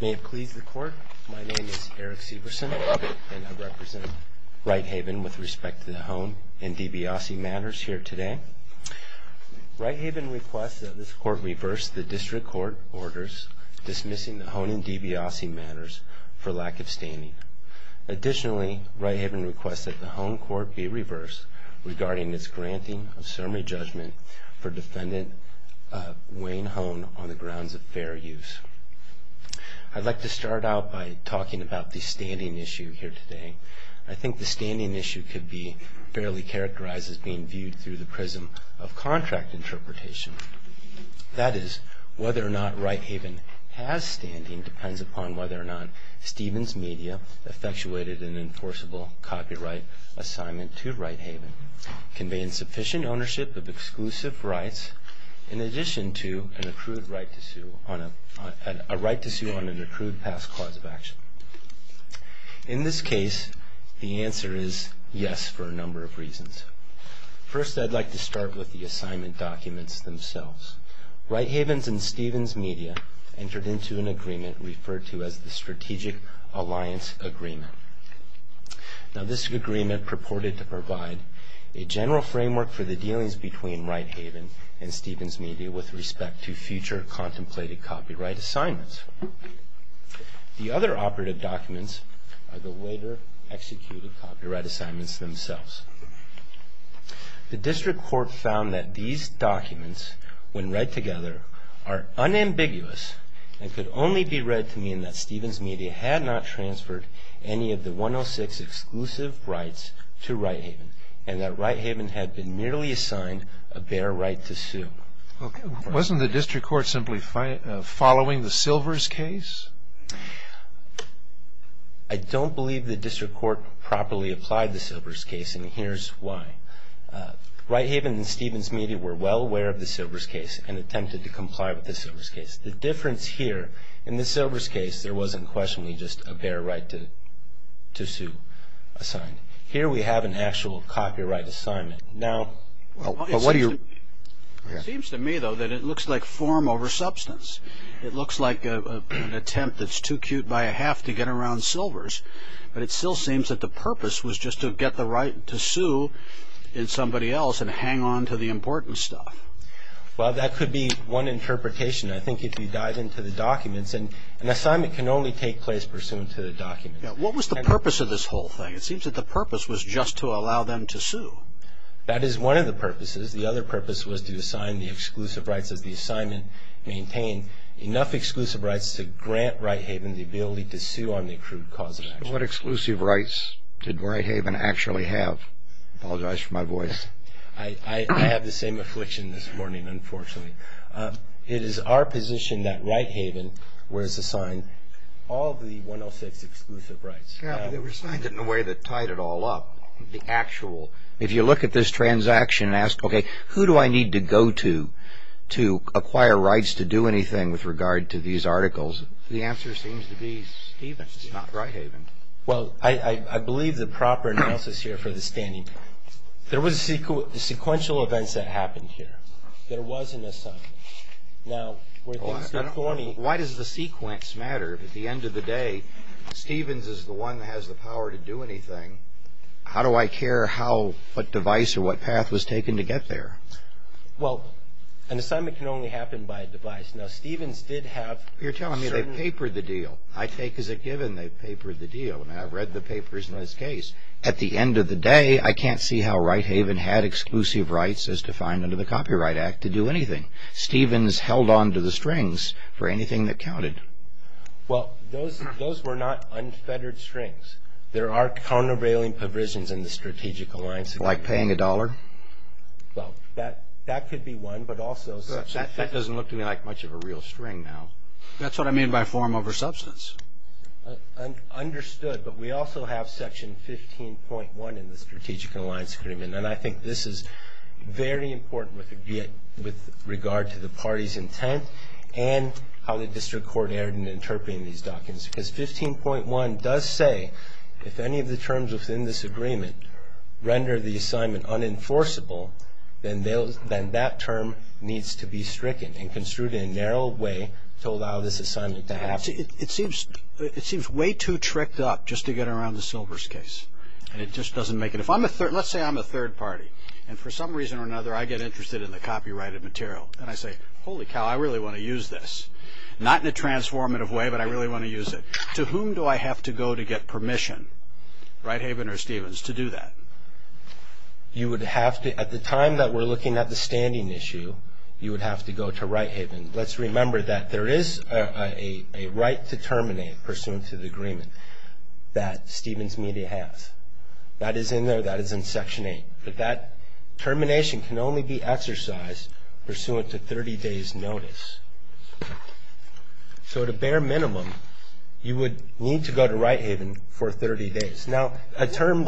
May it please the court, my name is Eric Severson and I represent Righthaven with respect to the Hohn and DiBiase matters here today. Righthaven requests that this court reverse the district court orders dismissing the Hohn and DiBiase matters for lack of standing. Additionally, Righthaven requests that the Hohn court be reversed regarding its granting of summary judgment for defendant Wayne Hohn on the grounds of fair use. I'd like to start out by talking about the standing issue here today. I think the standing issue could be fairly characterized as being viewed through the prism of contract interpretation. That is, whether or not Righthaven has standing depends upon whether or not Stevens Media effectuated an enforceable copyright assignment to Righthaven, conveying sufficient ownership of exclusive rights in addition to an accrued right to sue on an accrued past cause of action. In this case, the answer is yes for a number of reasons. First, I'd like to start with the assignment documents themselves. Righthaven and Stevens Media entered into an agreement referred to as the Strategic Alliance Agreement. Now this agreement purported to provide a general framework for the dealings between Righthaven and Stevens Media with respect to future contemplated copyright assignments. The other operative documents are the later executed copyright assignments themselves. The district court found that these documents, when read together, are unambiguous and could only be read to mean that Stevens Media had not transferred any of the 106 exclusive rights to Righthaven, and that Righthaven had been merely assigned a bare right to sue. Wasn't the district court simply following the Silvers case? I don't believe the district court properly applied the Silvers case, and here's why. Righthaven and Stevens Media were well aware of the Silvers case and attempted to comply with the Silvers case. The difference here, in the Silvers case, there wasn't questionably just a bare right to sue assigned. Here we have an actual copyright assignment. It seems to me, though, that it looks like form over substance. It looks like an attempt that's too cute by a half to get around Silvers, but it still seems that the purpose was just to get the right to sue in somebody else and hang on to the important stuff. Well, that could be one interpretation. I think if you dive into the documents, an assignment can only take place pursuant to the documents. What was the purpose of this whole thing? It seems that the purpose was just to allow them to sue. That is one of the purposes. The other purpose was to assign the exclusive rights of the assignment, maintain enough exclusive rights to grant Righthaven the ability to sue on the accrued cause of action. What exclusive rights did Righthaven actually have? I apologize for my voice. I have the same affliction this morning, unfortunately. It is our position that Righthaven was assigned all of the 106 exclusive rights. Yes, but they were assigned in a way that tied it all up, the actual. If you look at this transaction and ask, okay, who do I need to go to to acquire rights to do anything with regard to these articles, the answer seems to be Stevens, not Righthaven. Well, I believe the proper analysis here for the standing. There were sequential events that happened here. There was an assignment. Why does the sequence matter? At the end of the day, Stevens is the one that has the power to do anything. How do I care what device or what path was taken to get there? Well, an assignment can only happen by a device. Now, Stevens did have certain. You're telling me they papered the deal. I take as a given they papered the deal, and I've read the papers in this case. At the end of the day, I can't see how Righthaven had exclusive rights as defined under the Copyright Act to do anything. Stevens held on to the strings for anything that counted. Well, those were not unfettered strings. There are countervailing provisions in the Strategic Alliance Agreement. Like paying a dollar? Well, that could be one, but also. That doesn't look to me like much of a real string now. That's what I mean by form over substance. Understood, but we also have Section 15.1 in the Strategic Alliance Agreement, and I think this is very important with regard to the party's intent and how the district court erred in interpreting these documents because 15.1 does say if any of the terms within this agreement render the assignment unenforceable, then that term needs to be stricken and construed in a narrow way to allow this assignment to happen. It seems way too tricked up just to get around the Silvers case, and it just doesn't make it. Let's say I'm a third party, and for some reason or another I get interested in the copyrighted material, and I say, holy cow, I really want to use this. Not in a transformative way, but I really want to use it. To whom do I have to go to get permission, Righthaven or Stevens, to do that? At the time that we're looking at the standing issue, you would have to go to Righthaven. Let's remember that there is a right to terminate pursuant to the agreement that Stevens Media has. That is in there. That is in Section 8. But that termination can only be exercised pursuant to 30 days' notice. So at a bare minimum, you would need to go to Righthaven for 30 days. Now, a term-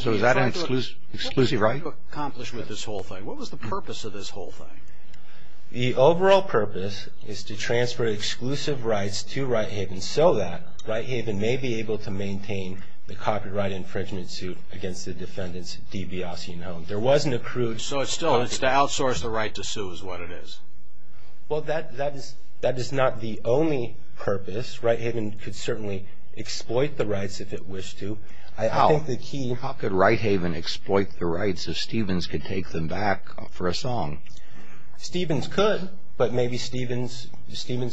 So is that an exclusive right? What were you trying to accomplish with this whole thing? What was the purpose of this whole thing? The overall purpose is to transfer exclusive rights to Righthaven so that Righthaven may be able to maintain the copyright infringement suit against the defendants, D.B. Ossian-Holmes. There wasn't a crude- So it's to outsource the right to sue is what it is. Well, that is not the only purpose. Righthaven could certainly exploit the rights if it wished to. I think the key- How could Righthaven exploit the rights if Stevens could take them back for a song? Stevens could, but maybe Stevens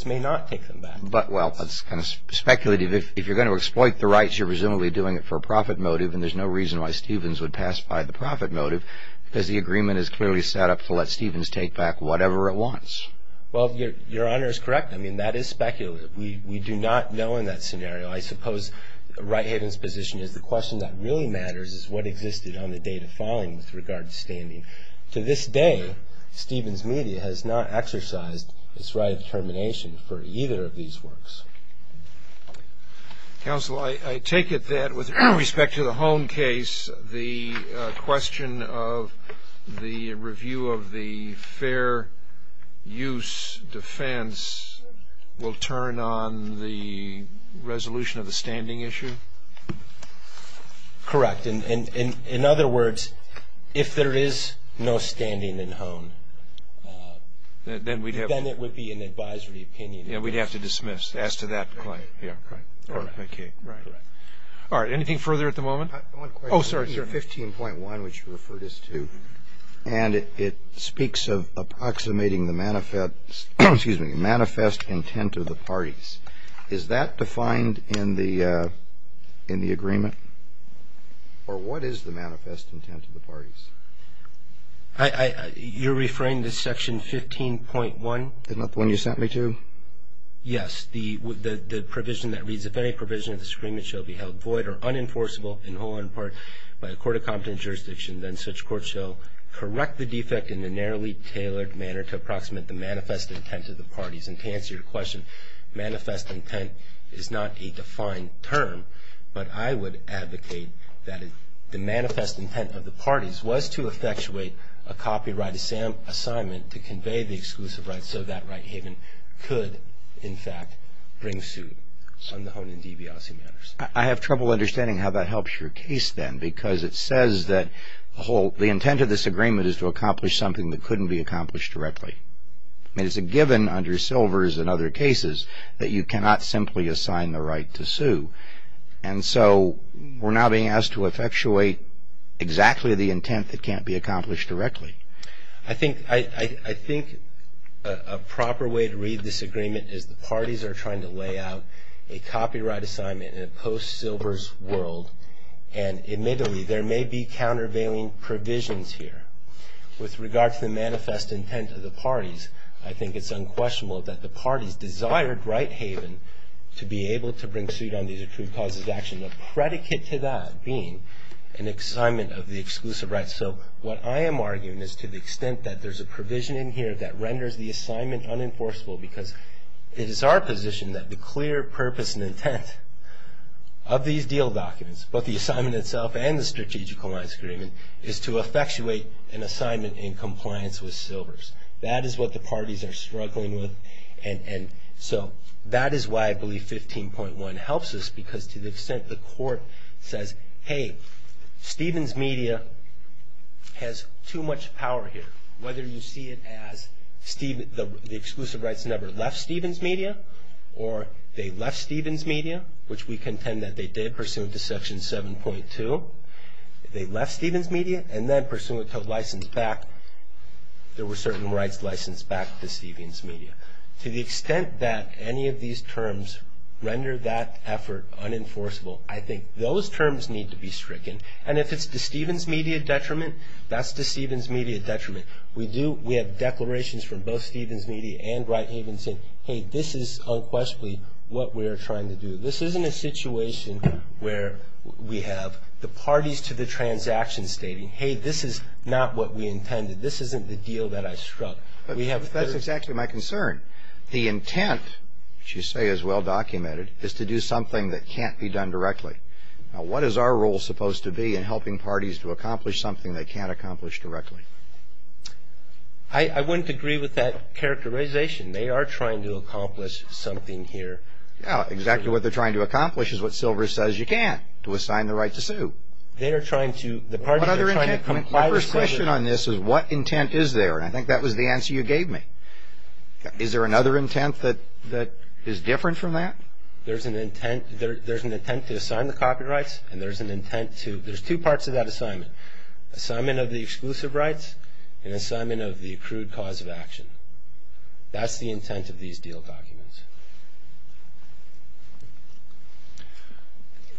may not take them back. But, well, that's kind of speculative. If you're going to exploit the rights, you're presumably doing it for a profit motive, and there's no reason why Stevens would pass by the profit motive because the agreement is clearly set up to let Stevens take back whatever it wants. Well, Your Honor is correct. I mean, that is speculative. We do not know in that scenario. I suppose Righthaven's position is the question that really matters is what existed on the date of filing with regard to standing. To this day, Stevens Media has not exercised its right of termination for either of these works. Counsel, I take it that with respect to the Hone case, the question of the review of the fair use defense will turn on the resolution of the standing issue? Correct. In other words, if there is no standing in Hone, then it would be an advisory opinion. Yeah, we'd have to dismiss. As to that claim. Yeah. All right. Okay. Right. All right. Anything further at the moment? One question. Oh, sorry. Is that defined in the agreement? Or what is the manifest intent of the parties? You're referring to section 15.1? Isn't that the one you sent me to? Yes. The provision that reads, if any provision of this agreement shall be held void or unenforceable in Hone by a court of competent jurisdiction, then such court shall correct the defect in a narrowly tailored manner to approximate the manifest intent of the parties. And to answer your question, manifest intent is not a defined term, but I would advocate that the manifest intent of the parties was to effectuate a copyright assignment to convey the exclusive rights so that right haven could, in fact, bring suit on the Hone and DeBiase matters. I have trouble understanding how that helps your case then, because it says that the intent of this agreement is to accomplish something that couldn't be accomplished directly. I mean, it's a given under Silvers and other cases that you cannot simply assign the right to sue. And so we're now being asked to effectuate exactly the intent that can't be accomplished directly. I think a proper way to read this agreement is the parties are trying to lay out a copyright assignment in a post-Silvers world, and admittedly, there may be countervailing provisions here. With regard to the manifest intent of the parties, I think it's unquestionable that the parties desired right haven to be able to bring suit on these accrued causes of action, a predicate to that being an assignment of the exclusive rights. So what I am arguing is to the extent that there's a provision in here that renders the assignment unenforceable, because it is our position that the clear purpose and intent of these deal documents, both the assignment itself and the strategic alliance agreement, is to effectuate an assignment in compliance with Silvers. That is what the parties are struggling with, and so that is why I believe 15.1 helps us, because to the extent the court says, hey, Stevens Media has too much power here, whether you see it as the exclusive rights never left Stevens Media, or they left Stevens Media, which we contend that they did pursuant to Section 7.2, they left Stevens Media, and then pursuant to license back, there were certain rights licensed back to Stevens Media. To the extent that any of these terms render that effort unenforceable, I think those terms need to be stricken, and if it's to Stevens Media detriment, that's to Stevens Media detriment. We have declarations from both Stevens Media and Right Haven saying, hey, this is unquestionably what we are trying to do. This isn't a situation where we have the parties to the transaction stating, hey, this is not what we intended. This isn't the deal that I struck. That's exactly my concern. The intent, which you say is well documented, is to do something that can't be done directly. Now, what is our role supposed to be in helping parties to accomplish something they can't accomplish directly? I wouldn't agree with that characterization. They are trying to accomplish something here. Yeah, exactly what they're trying to accomplish is what Silver says you can't, to assign the right to sue. What other intent? My first question on this is what intent is there, and I think that was the answer you gave me. Is there another intent that is different from that? There's an intent to assign the copyrights, and there's an intent to – there's two parts to that assignment. Assignment of the exclusive rights and assignment of the accrued cause of action. That's the intent of these deal documents.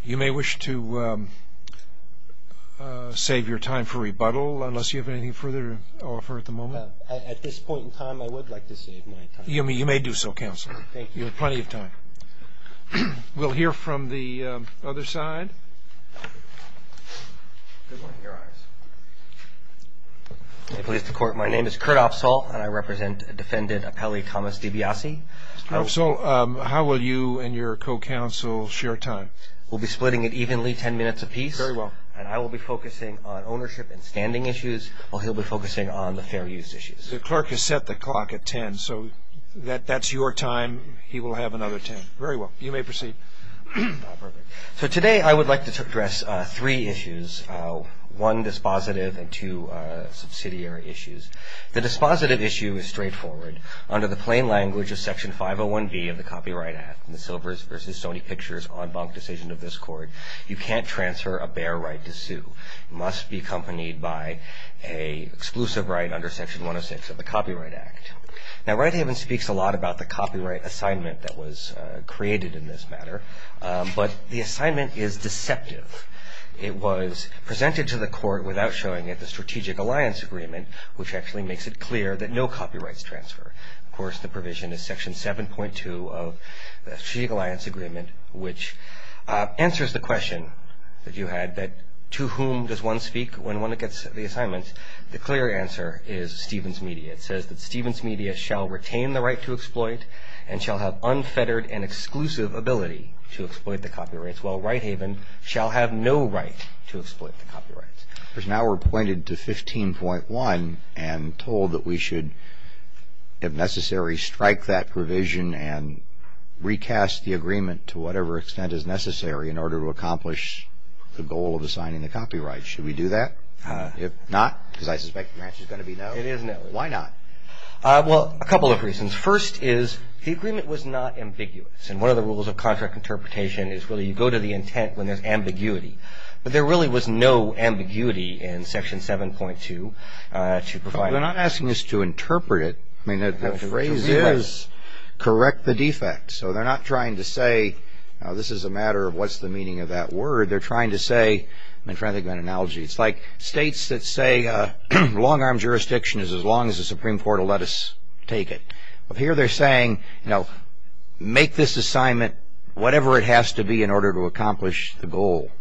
You may wish to save your time for rebuttal unless you have anything further to offer at the moment. At this point in time, I would like to save my time. You may do so, Counselor. Thank you. You have plenty of time. Good morning, Your Honors. Pleased to court. My name is Kurt Opsahl, and I represent Defendant Appelli Thomas-DiBiase. Mr. Opsahl, how will you and your co-counsel share time? We'll be splitting it evenly, 10 minutes apiece. Very well. And I will be focusing on ownership and standing issues, while he'll be focusing on the fair use issues. The clerk has set the clock at 10, so that's your time. He will have another 10. Very well. You may proceed. So today I would like to address three issues, one dispositive and two subsidiary issues. The dispositive issue is straightforward. Under the plain language of Section 501B of the Copyright Act, the Silvers v. Stoney Pictures en banc decision of this court, you can't transfer a bare right to sue. It must be accompanied by an exclusive right under Section 106 of the Copyright Act. Now, Wright-Haven speaks a lot about the copyright assignment that was created in this matter, but the assignment is deceptive. It was presented to the court without showing it, the Strategic Alliance Agreement, which actually makes it clear that no copyrights transfer. Of course, the provision is Section 7.2 of the Strategic Alliance Agreement, which answers the question that you had, that to whom does one speak when one gets the assignment? The clear answer is Stevens Media. It says that Stevens Media shall retain the right to exploit and shall have unfettered and exclusive ability to exploit the copyrights, while Wright-Haven shall have no right to exploit the copyrights. Now we're pointed to 15.1 and told that we should, if necessary, strike that provision and recast the agreement to whatever extent is necessary in order to accomplish the goal of assigning the copyright. Should we do that? If not, because I suspect the match is going to be no. It is no. Why not? Well, a couple of reasons. First is the agreement was not ambiguous, and one of the rules of contract interpretation is really you go to the intent when there's ambiguity. But there really was no ambiguity in Section 7.2 to provide. They're not asking us to interpret it. I mean, the phrase is correct the defect. So they're not trying to say this is a matter of what's the meaning of that word. They're trying to say, I'm trying to think of an analogy. It's like states that say long-arm jurisdiction is as long as the Supreme Court will let us take it. Here they're saying, you know, make this assignment whatever it has to be in order to accomplish the goal.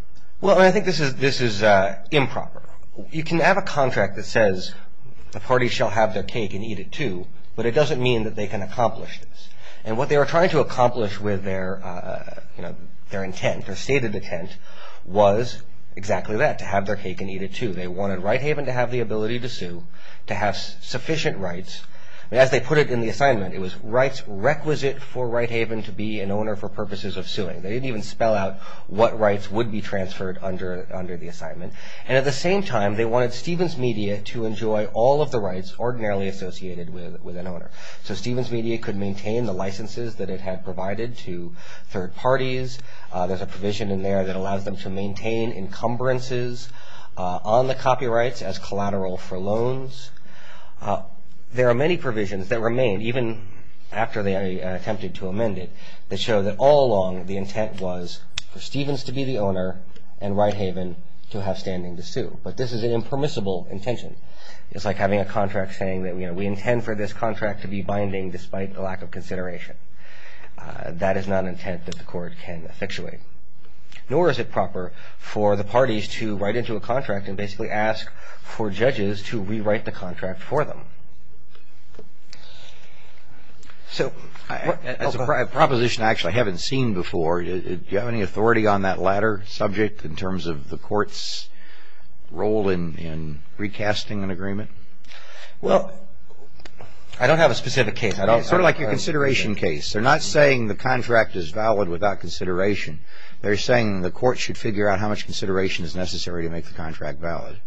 Well, I think this is improper. You can have a contract that says the party shall have their cake and eat it too, but it doesn't mean that they can accomplish this. And what they were trying to accomplish with their intent, their stated intent, was exactly that, to have their cake and eat it too. They wanted Wright Haven to have the ability to sue, to have sufficient rights. As they put it in the assignment, it was rights requisite for Wright Haven to be an owner for purposes of suing. They didn't even spell out what rights would be transferred under the assignment. And at the same time, they wanted Stevens Media to enjoy all of the rights ordinarily associated with an owner. So Stevens Media could maintain the licenses that it had provided to third parties. There's a provision in there that allows them to maintain encumbrances on the copyrights as collateral for loans. There are many provisions that remain, even after they attempted to amend it, that show that all along the intent was for Stevens to be the owner and Wright Haven to have standing to sue. But this is an impermissible intention. It's like having a contract saying that, you know, we intend for this contract to be binding despite the lack of consideration. That is not an intent that the court can effectuate. Nor is it proper for the parties to write into a contract and basically ask for judges to rewrite the contract for them. So as a proposition I actually haven't seen before, do you have any authority on that latter subject in terms of the court's role in recasting an agreement? Well, I don't have a specific case. It's sort of like your consideration case. They're not saying the contract is valid without consideration. They're saying the court should figure out how much consideration is necessary to make the contract valid.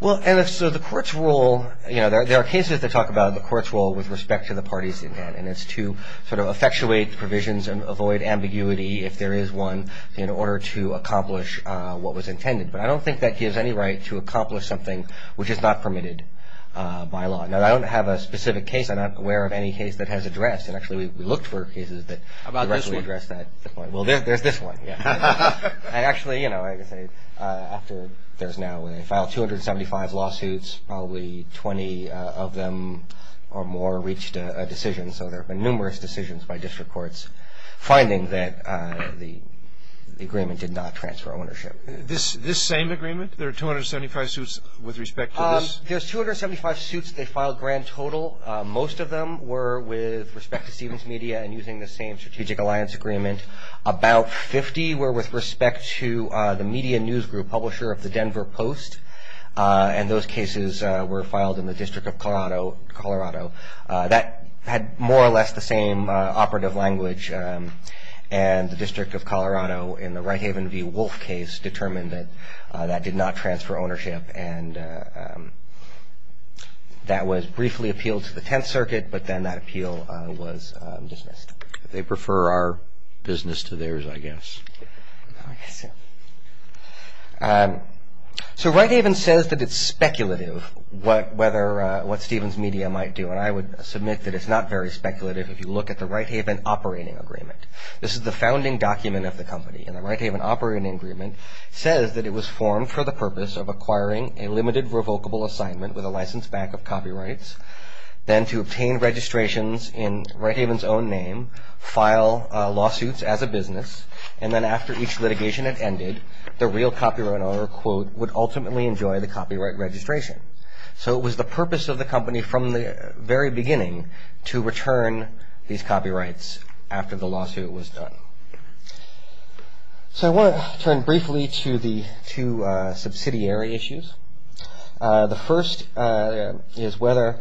Well, and so the court's role, you know, there are cases that talk about the court's role with respect to the parties intent and it's to sort of effectuate the provisions and avoid ambiguity if there is one in order to accomplish what was intended. But I don't think that gives any right to accomplish something which is not permitted by law. Now, I don't have a specific case. I'm not aware of any case that has addressed. And actually we looked for cases that directly addressed that point. How about this one? Well, there's this one, yeah. Actually, you know, I can say after there's now a file 275 lawsuits, probably 20 of them or more reached a decision. So there have been numerous decisions by district courts finding that the agreement did not transfer ownership. This same agreement, there are 275 suits with respect to this? There's 275 suits. They filed grand total. Most of them were with respect to Stevens Media and using the same strategic alliance agreement. About 50 were with respect to the media news group publisher of the Denver Post, and those cases were filed in the District of Colorado. That had more or less the same operative language, and the District of Colorado in the Wright Haven v. Wolfe case determined that that did not transfer ownership, and that was briefly appealed to the Tenth Circuit, but then that appeal was dismissed. They prefer our business to theirs, I guess. I guess so. So Wright Haven says that it's speculative what Stevens Media might do, and I would submit that it's not very speculative if you look at the Wright Haven operating agreement. This is the founding document of the company, and the Wright Haven operating agreement says that it was formed for the purpose of acquiring a limited revocable assignment with a license back of copyrights, then to obtain registrations in Wright Haven's own name, file lawsuits as a business, and then after each litigation had ended, the real copyright owner, quote, would ultimately enjoy the copyright registration. So it was the purpose of the company from the very beginning to return these copyrights after the lawsuit was done. So I want to turn briefly to the two subsidiary issues. The first is whether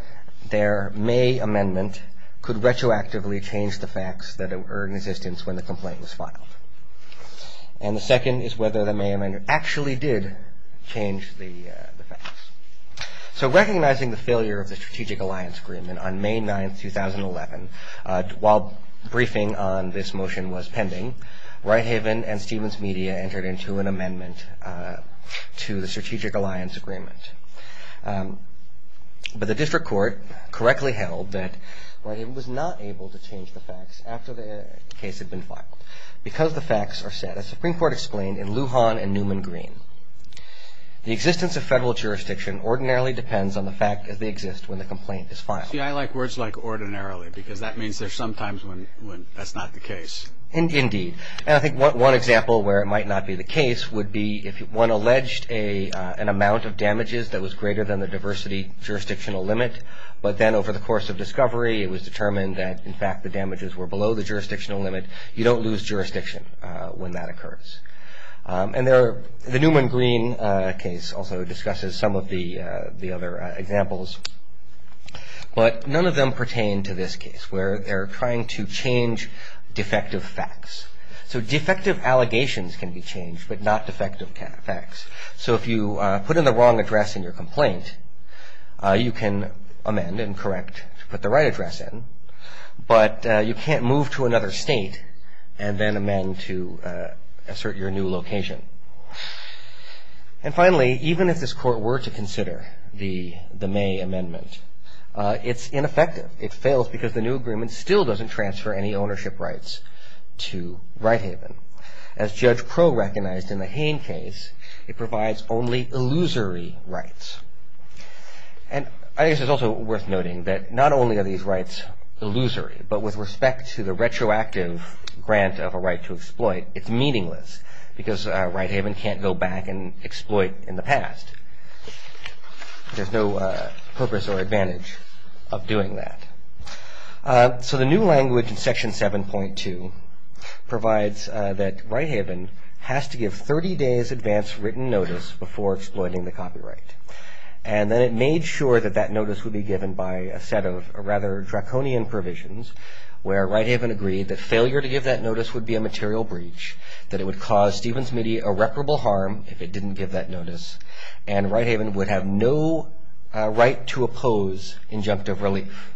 their May Amendment could retroactively change the facts that were in existence when the complaint was filed, and the second is whether the May Amendment actually did change the facts. So recognizing the failure of the Strategic Alliance Agreement on May 9th, 2011, while briefing on this motion was pending, Wright Haven and Stevens Media entered into an amendment to the Strategic Alliance Agreement, but the district court correctly held that Wright Haven was not able to change the facts after the case had been filed because the facts are set, as the Supreme Court explained, in Lujan and Newman Green. The existence of federal jurisdiction ordinarily depends on the fact that they exist when the complaint is filed. See, I like words like ordinarily because that means there's sometimes when that's not the case. Indeed, and I think one example where it might not be the case would be if one alleged an amount of damages that was greater than the diversity jurisdictional limit, but then over the course of discovery, it was determined that, in fact, the damages were below the jurisdictional limit. You don't lose jurisdiction when that occurs. And the Newman Green case also discusses some of the other examples, but none of them pertain to this case where they're trying to change defective facts. So defective allegations can be changed, but not defective facts. So if you put in the wrong address in your complaint, you can amend and correct to put the right address in, but you can't move to another state and then amend to assert your new location. And finally, even if this court were to consider the May Amendment, it's ineffective. It fails because the new agreement still doesn't transfer any ownership rights to Wright Haven. As Judge Pro recognized in the Hain case, it provides only illusory rights. And I guess it's also worth noting that not only are these rights illusory, but with respect to the retroactive grant of a right to exploit, it's meaningless because Wright Haven can't go back and exploit in the past. There's no purpose or advantage of doing that. So the new language in Section 7.2 provides that Wright Haven has to give 30 days advance written notice before exploiting the copyright. And then it made sure that that notice would be given by a set of rather draconian provisions where Wright Haven agreed that failure to give that notice would be a material breach, that it would cause Stevens-Mitty irreparable harm if it didn't give that notice, and Wright Haven would have no right to oppose injunctive relief.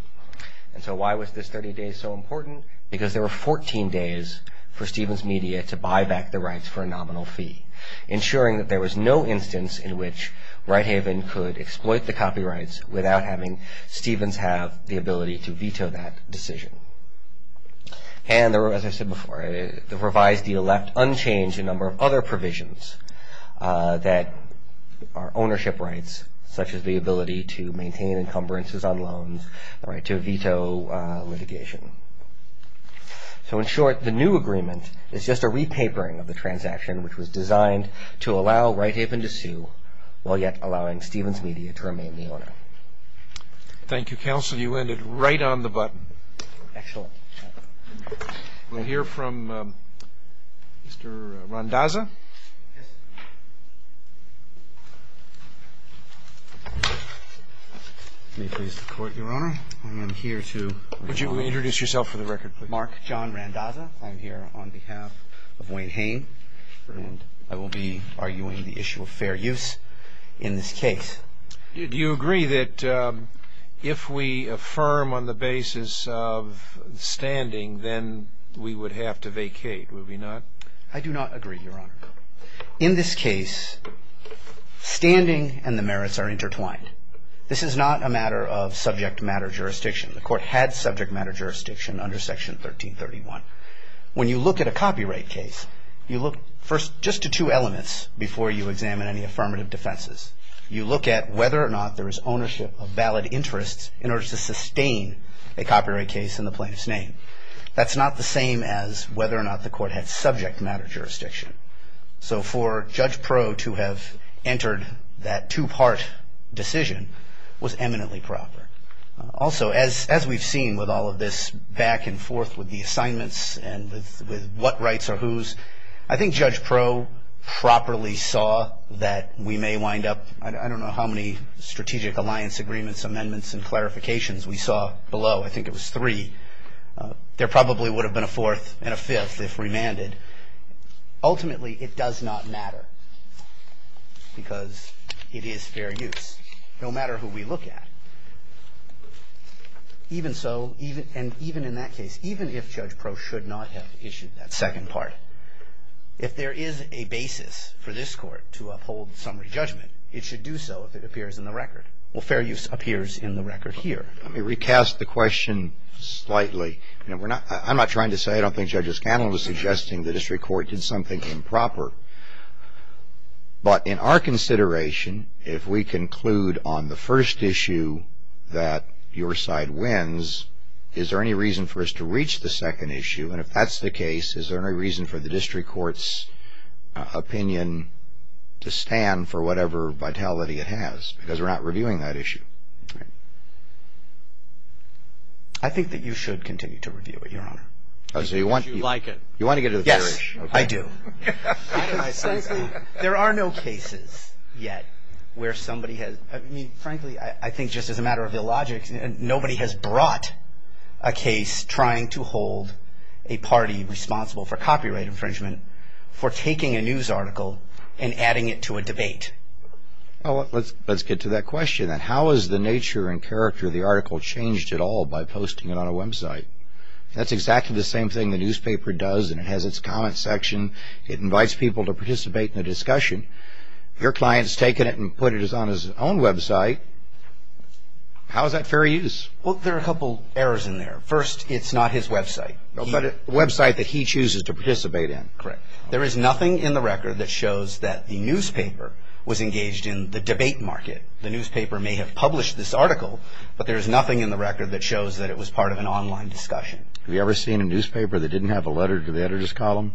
And so why was this 30 days so important? Because there were 14 days for Stevens-Mitty to buy back the rights for a nominal fee, ensuring that there was no instance in which Wright Haven could exploit the copyrights without having Stevens-Mitty have the ability to veto that decision. And as I said before, the revised deal left unchanged a number of other provisions that are ownership rights, such as the ability to maintain encumbrances on loans, the right to veto litigation. So in short, the new agreement is just a repapering of the transaction which was designed to allow Wright Haven to sue while yet allowing Stevens-Mitty to remain the owner. Thank you, Counsel. You ended right on the button. Excellent. We'll hear from Mr. Randazza. Yes. May it please the Court, Your Honor. I'm here to introduce myself for the record. Mark John Randazza. I'm here on behalf of Wayne Hain, and I will be arguing the issue of fair use in this case. Do you agree that if we affirm on the basis of standing, then we would have to vacate, would we not? I do not agree, Your Honor. In this case, standing and the merits are intertwined. This is not a matter of subject matter jurisdiction. The Court had subject matter jurisdiction under Section 1331. When you look at a copyright case, you look first just to two elements before you examine any affirmative defenses. You look at whether or not there is ownership of valid interests in order to sustain a copyright case in the plaintiff's name. That's not the same as whether or not the Court had subject matter jurisdiction. So for Judge Proe to have entered that two-part decision was eminently proper. Also, as we've seen with all of this back and forth with the assignments and with what rights are whose, I think Judge Proe properly saw that we may wind up, I don't know how many strategic alliance agreements, amendments, and clarifications we saw below. I think it was three. There probably would have been a fourth and a fifth if remanded. Ultimately, it does not matter because it is fair use, no matter who we look at. Even so, and even in that case, even if Judge Proe should not have issued that second part, if there is a basis for this Court to uphold summary judgment, it should do so if it appears in the record. Well, fair use appears in the record here. Let me recast the question slightly. I'm not trying to say, I don't think Judge O'Connell was suggesting the district court did something improper. But in our consideration, if we conclude on the first issue that your side wins, is there any reason for us to reach the second issue? And if that's the case, is there any reason for the district court's opinion to stand for whatever vitality it has? Because we're not reviewing that issue. I think that you should continue to review it, Your Honor. Because you like it. You want to get to the third issue. Yes, I do. There are no cases yet where somebody has, I mean, frankly, I think just as a matter of illogic, nobody has brought a case trying to hold a party responsible for copyright infringement for taking a news article and adding it to a debate. Well, let's get to that question. How has the nature and character of the article changed at all by posting it on a website? That's exactly the same thing the newspaper does, and it has its comment section. It invites people to participate in the discussion. Your client's taken it and put it on his own website. How is that fair use? Well, there are a couple errors in there. First, it's not his website. But a website that he chooses to participate in. Correct. There is nothing in the record that shows that the newspaper was engaged in the debate market. The newspaper may have published this article, but there is nothing in the record that shows that it was part of an online discussion. Have you ever seen a newspaper that didn't have a letter to the editor's column?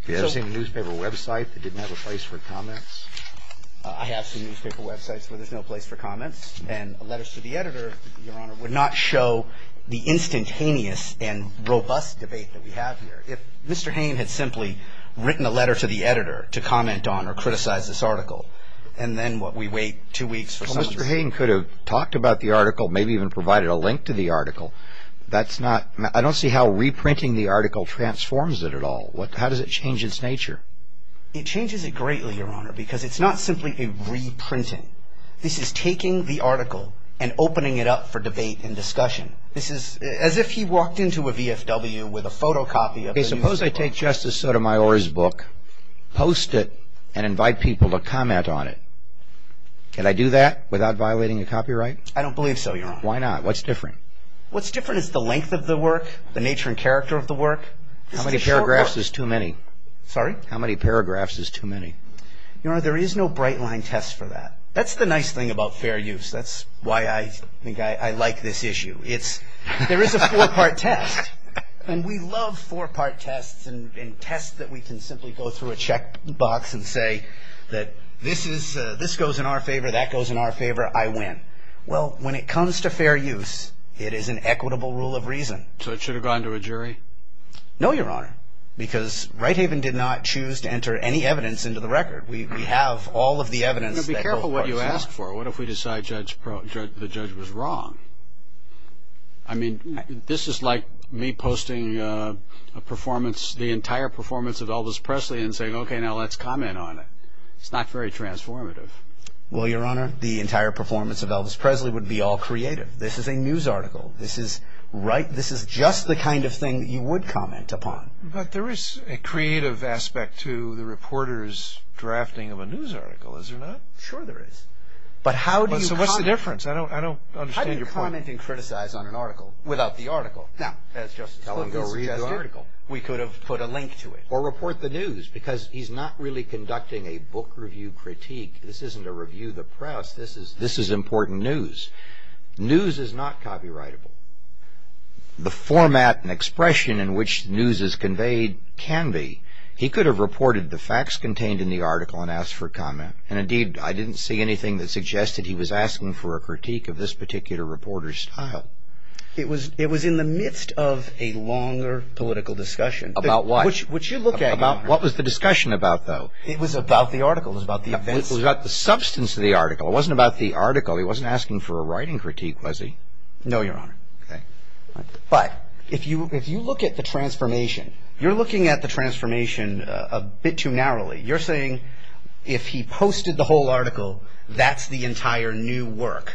Have you ever seen a newspaper website that didn't have a place for comments? I have seen newspaper websites where there's no place for comments, and letters to the editor, Your Honor, would not show the instantaneous and robust debate that we have here. If Mr. Hayne had simply written a letter to the editor to comment on or criticize this article, Mr. Hayne could have talked about the article, maybe even provided a link to the article. I don't see how reprinting the article transforms it at all. How does it change its nature? It changes it greatly, Your Honor, because it's not simply a reprinting. This is taking the article and opening it up for debate and discussion. This is as if he walked into a VFW with a photocopy of the newspaper. Suppose I take Justice Sotomayor's book, post it, and invite people to comment on it. Can I do that without violating a copyright? I don't believe so, Your Honor. Why not? What's different? What's different is the length of the work, the nature and character of the work. How many paragraphs is too many? Sorry? How many paragraphs is too many? Your Honor, there is no bright line test for that. That's the nice thing about fair use. That's why I think I like this issue. There is a four-part test, and we love four-part tests and tests that we can simply go through a check box and say that this goes in our favor, that goes in our favor, I win. Well, when it comes to fair use, it is an equitable rule of reason. So it should have gone to a jury? No, Your Honor, because Righthaven did not choose to enter any evidence into the record. We have all of the evidence. Be careful what you ask for. What if we decide the judge was wrong? I mean, this is like me posting a performance, the entire performance of Elvis Presley, and saying, okay, now let's comment on it. It's not very transformative. Well, Your Honor, the entire performance of Elvis Presley would be all creative. This is a news article. This is just the kind of thing you would comment upon. But there is a creative aspect to the reporter's drafting of a news article, is there not? But how do you comment? So what's the difference? I don't understand your point. How do you comment and criticize on an article without the article? Now, that's just to tell him this is just the article. We could have put a link to it. Or report the news, because he's not really conducting a book review critique. This isn't a review of the press. This is important news. News is not copyrightable. The format and expression in which news is conveyed can be. He could have reported the facts contained in the article and asked for comment. And, indeed, I didn't see anything that suggested he was asking for a critique of this particular reporter's style. It was in the midst of a longer political discussion. About what? Which you look at, Your Honor. What was the discussion about, though? It was about the article. It was about the events. It was about the substance of the article. It wasn't about the article. He wasn't asking for a writing critique, was he? No, Your Honor. Okay. But if you look at the transformation, you're looking at the transformation a bit too narrowly. You're saying if he posted the whole article, that's the entire new work.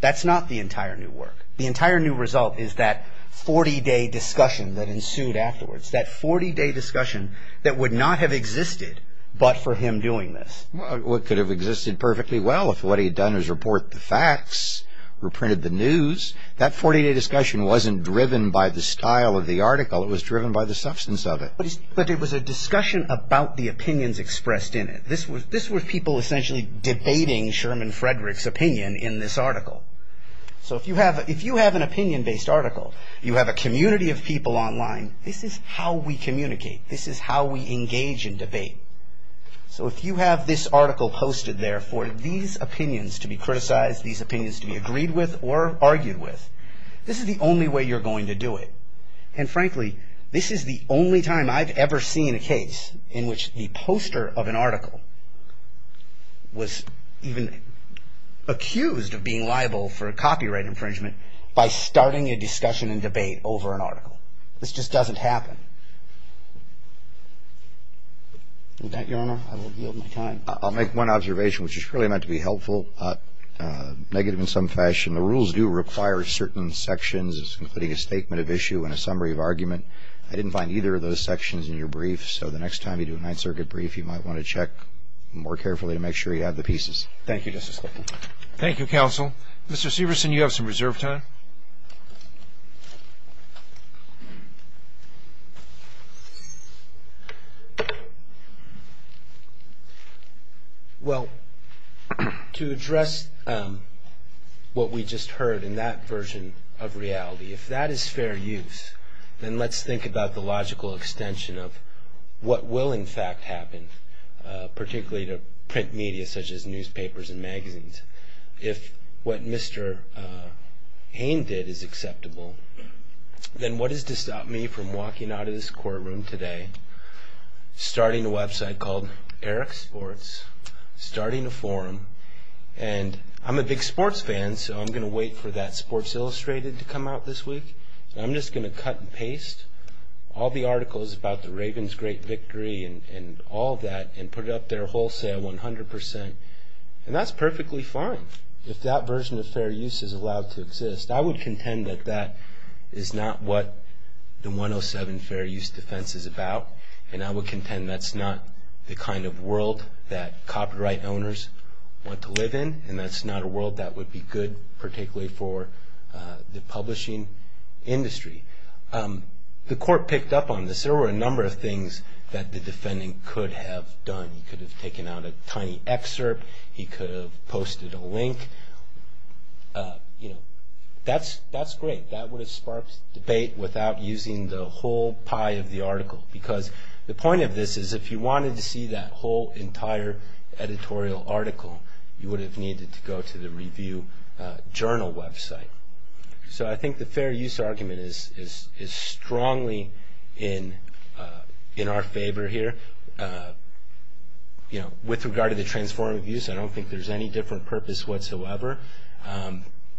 That's not the entire new work. The entire new result is that 40-day discussion that ensued afterwards. That 40-day discussion that would not have existed but for him doing this. Well, it could have existed perfectly well if what he had done was report the facts, reprinted the news. That 40-day discussion wasn't driven by the style of the article. It was driven by the substance of it. But it was a discussion about the opinions expressed in it. This was people essentially debating Sherman Frederick's opinion in this article. So if you have an opinion-based article, you have a community of people online, this is how we communicate. This is how we engage in debate. So if you have this article posted there for these opinions to be criticized, these opinions to be agreed with or argued with, this is the only way you're going to do it. And frankly, this is the only time I've ever seen a case in which the poster of an article was even accused of being liable for a copyright infringement by starting a discussion and debate over an article. This just doesn't happen. With that, Your Honor, I will yield my time. I'll make one observation, which is really meant to be helpful, negative in some fashion. The rules do require certain sections, including a statement of issue and a summary of argument. I didn't find either of those sections in your brief. So the next time you do a Ninth Circuit brief, you might want to check more carefully to make sure you have the pieces. Thank you, Justice Clayton. Thank you, counsel. Mr. Severson, you have some reserve time. Well, to address what we just heard in that version of reality, if that is fair use, then let's think about the logical extension of what will, in fact, happen, particularly to print media such as newspapers and magazines. If what Mr. Hain did is acceptable, then what is to stop me from walking out of this courtroom today, starting a website called Eric Sports, starting a forum? And I'm a big sports fan, so I'm going to wait for that Sports Illustrated to come out this week. I'm just going to cut and paste all the articles about the Ravens' great victory and all that and put it up there wholesale 100 percent. And that's perfectly fine if that version of fair use is allowed to exist. I would contend that that is not what the 107 Fair Use Defense is about, and I would contend that's not the kind of world that copyright owners want to live in, and that's not a world that would be good particularly for the publishing industry. The court picked up on this. There were a number of things that the defendant could have done. He could have taken out a tiny excerpt. He could have posted a link. That's great. That would have sparked debate without using the whole pie of the article because the point of this is if you wanted to see that whole entire editorial article, you would have needed to go to the review journal website. So I think the fair use argument is strongly in our favor here. With regard to the transformative use, I don't think there's any different purpose whatsoever.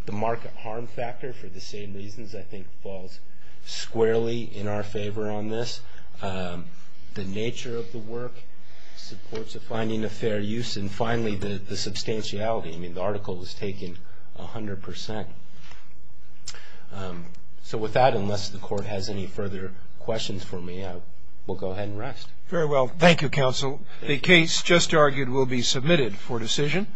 The market harm factor for the same reasons I think falls squarely in our favor on this. The nature of the work supports the finding of fair use, and finally, the substantiality. The article was taken 100 percent. So with that, unless the court has any further questions for me, we'll go ahead and rest. Very well. Thank you, counsel. The case just argued will be submitted for decision.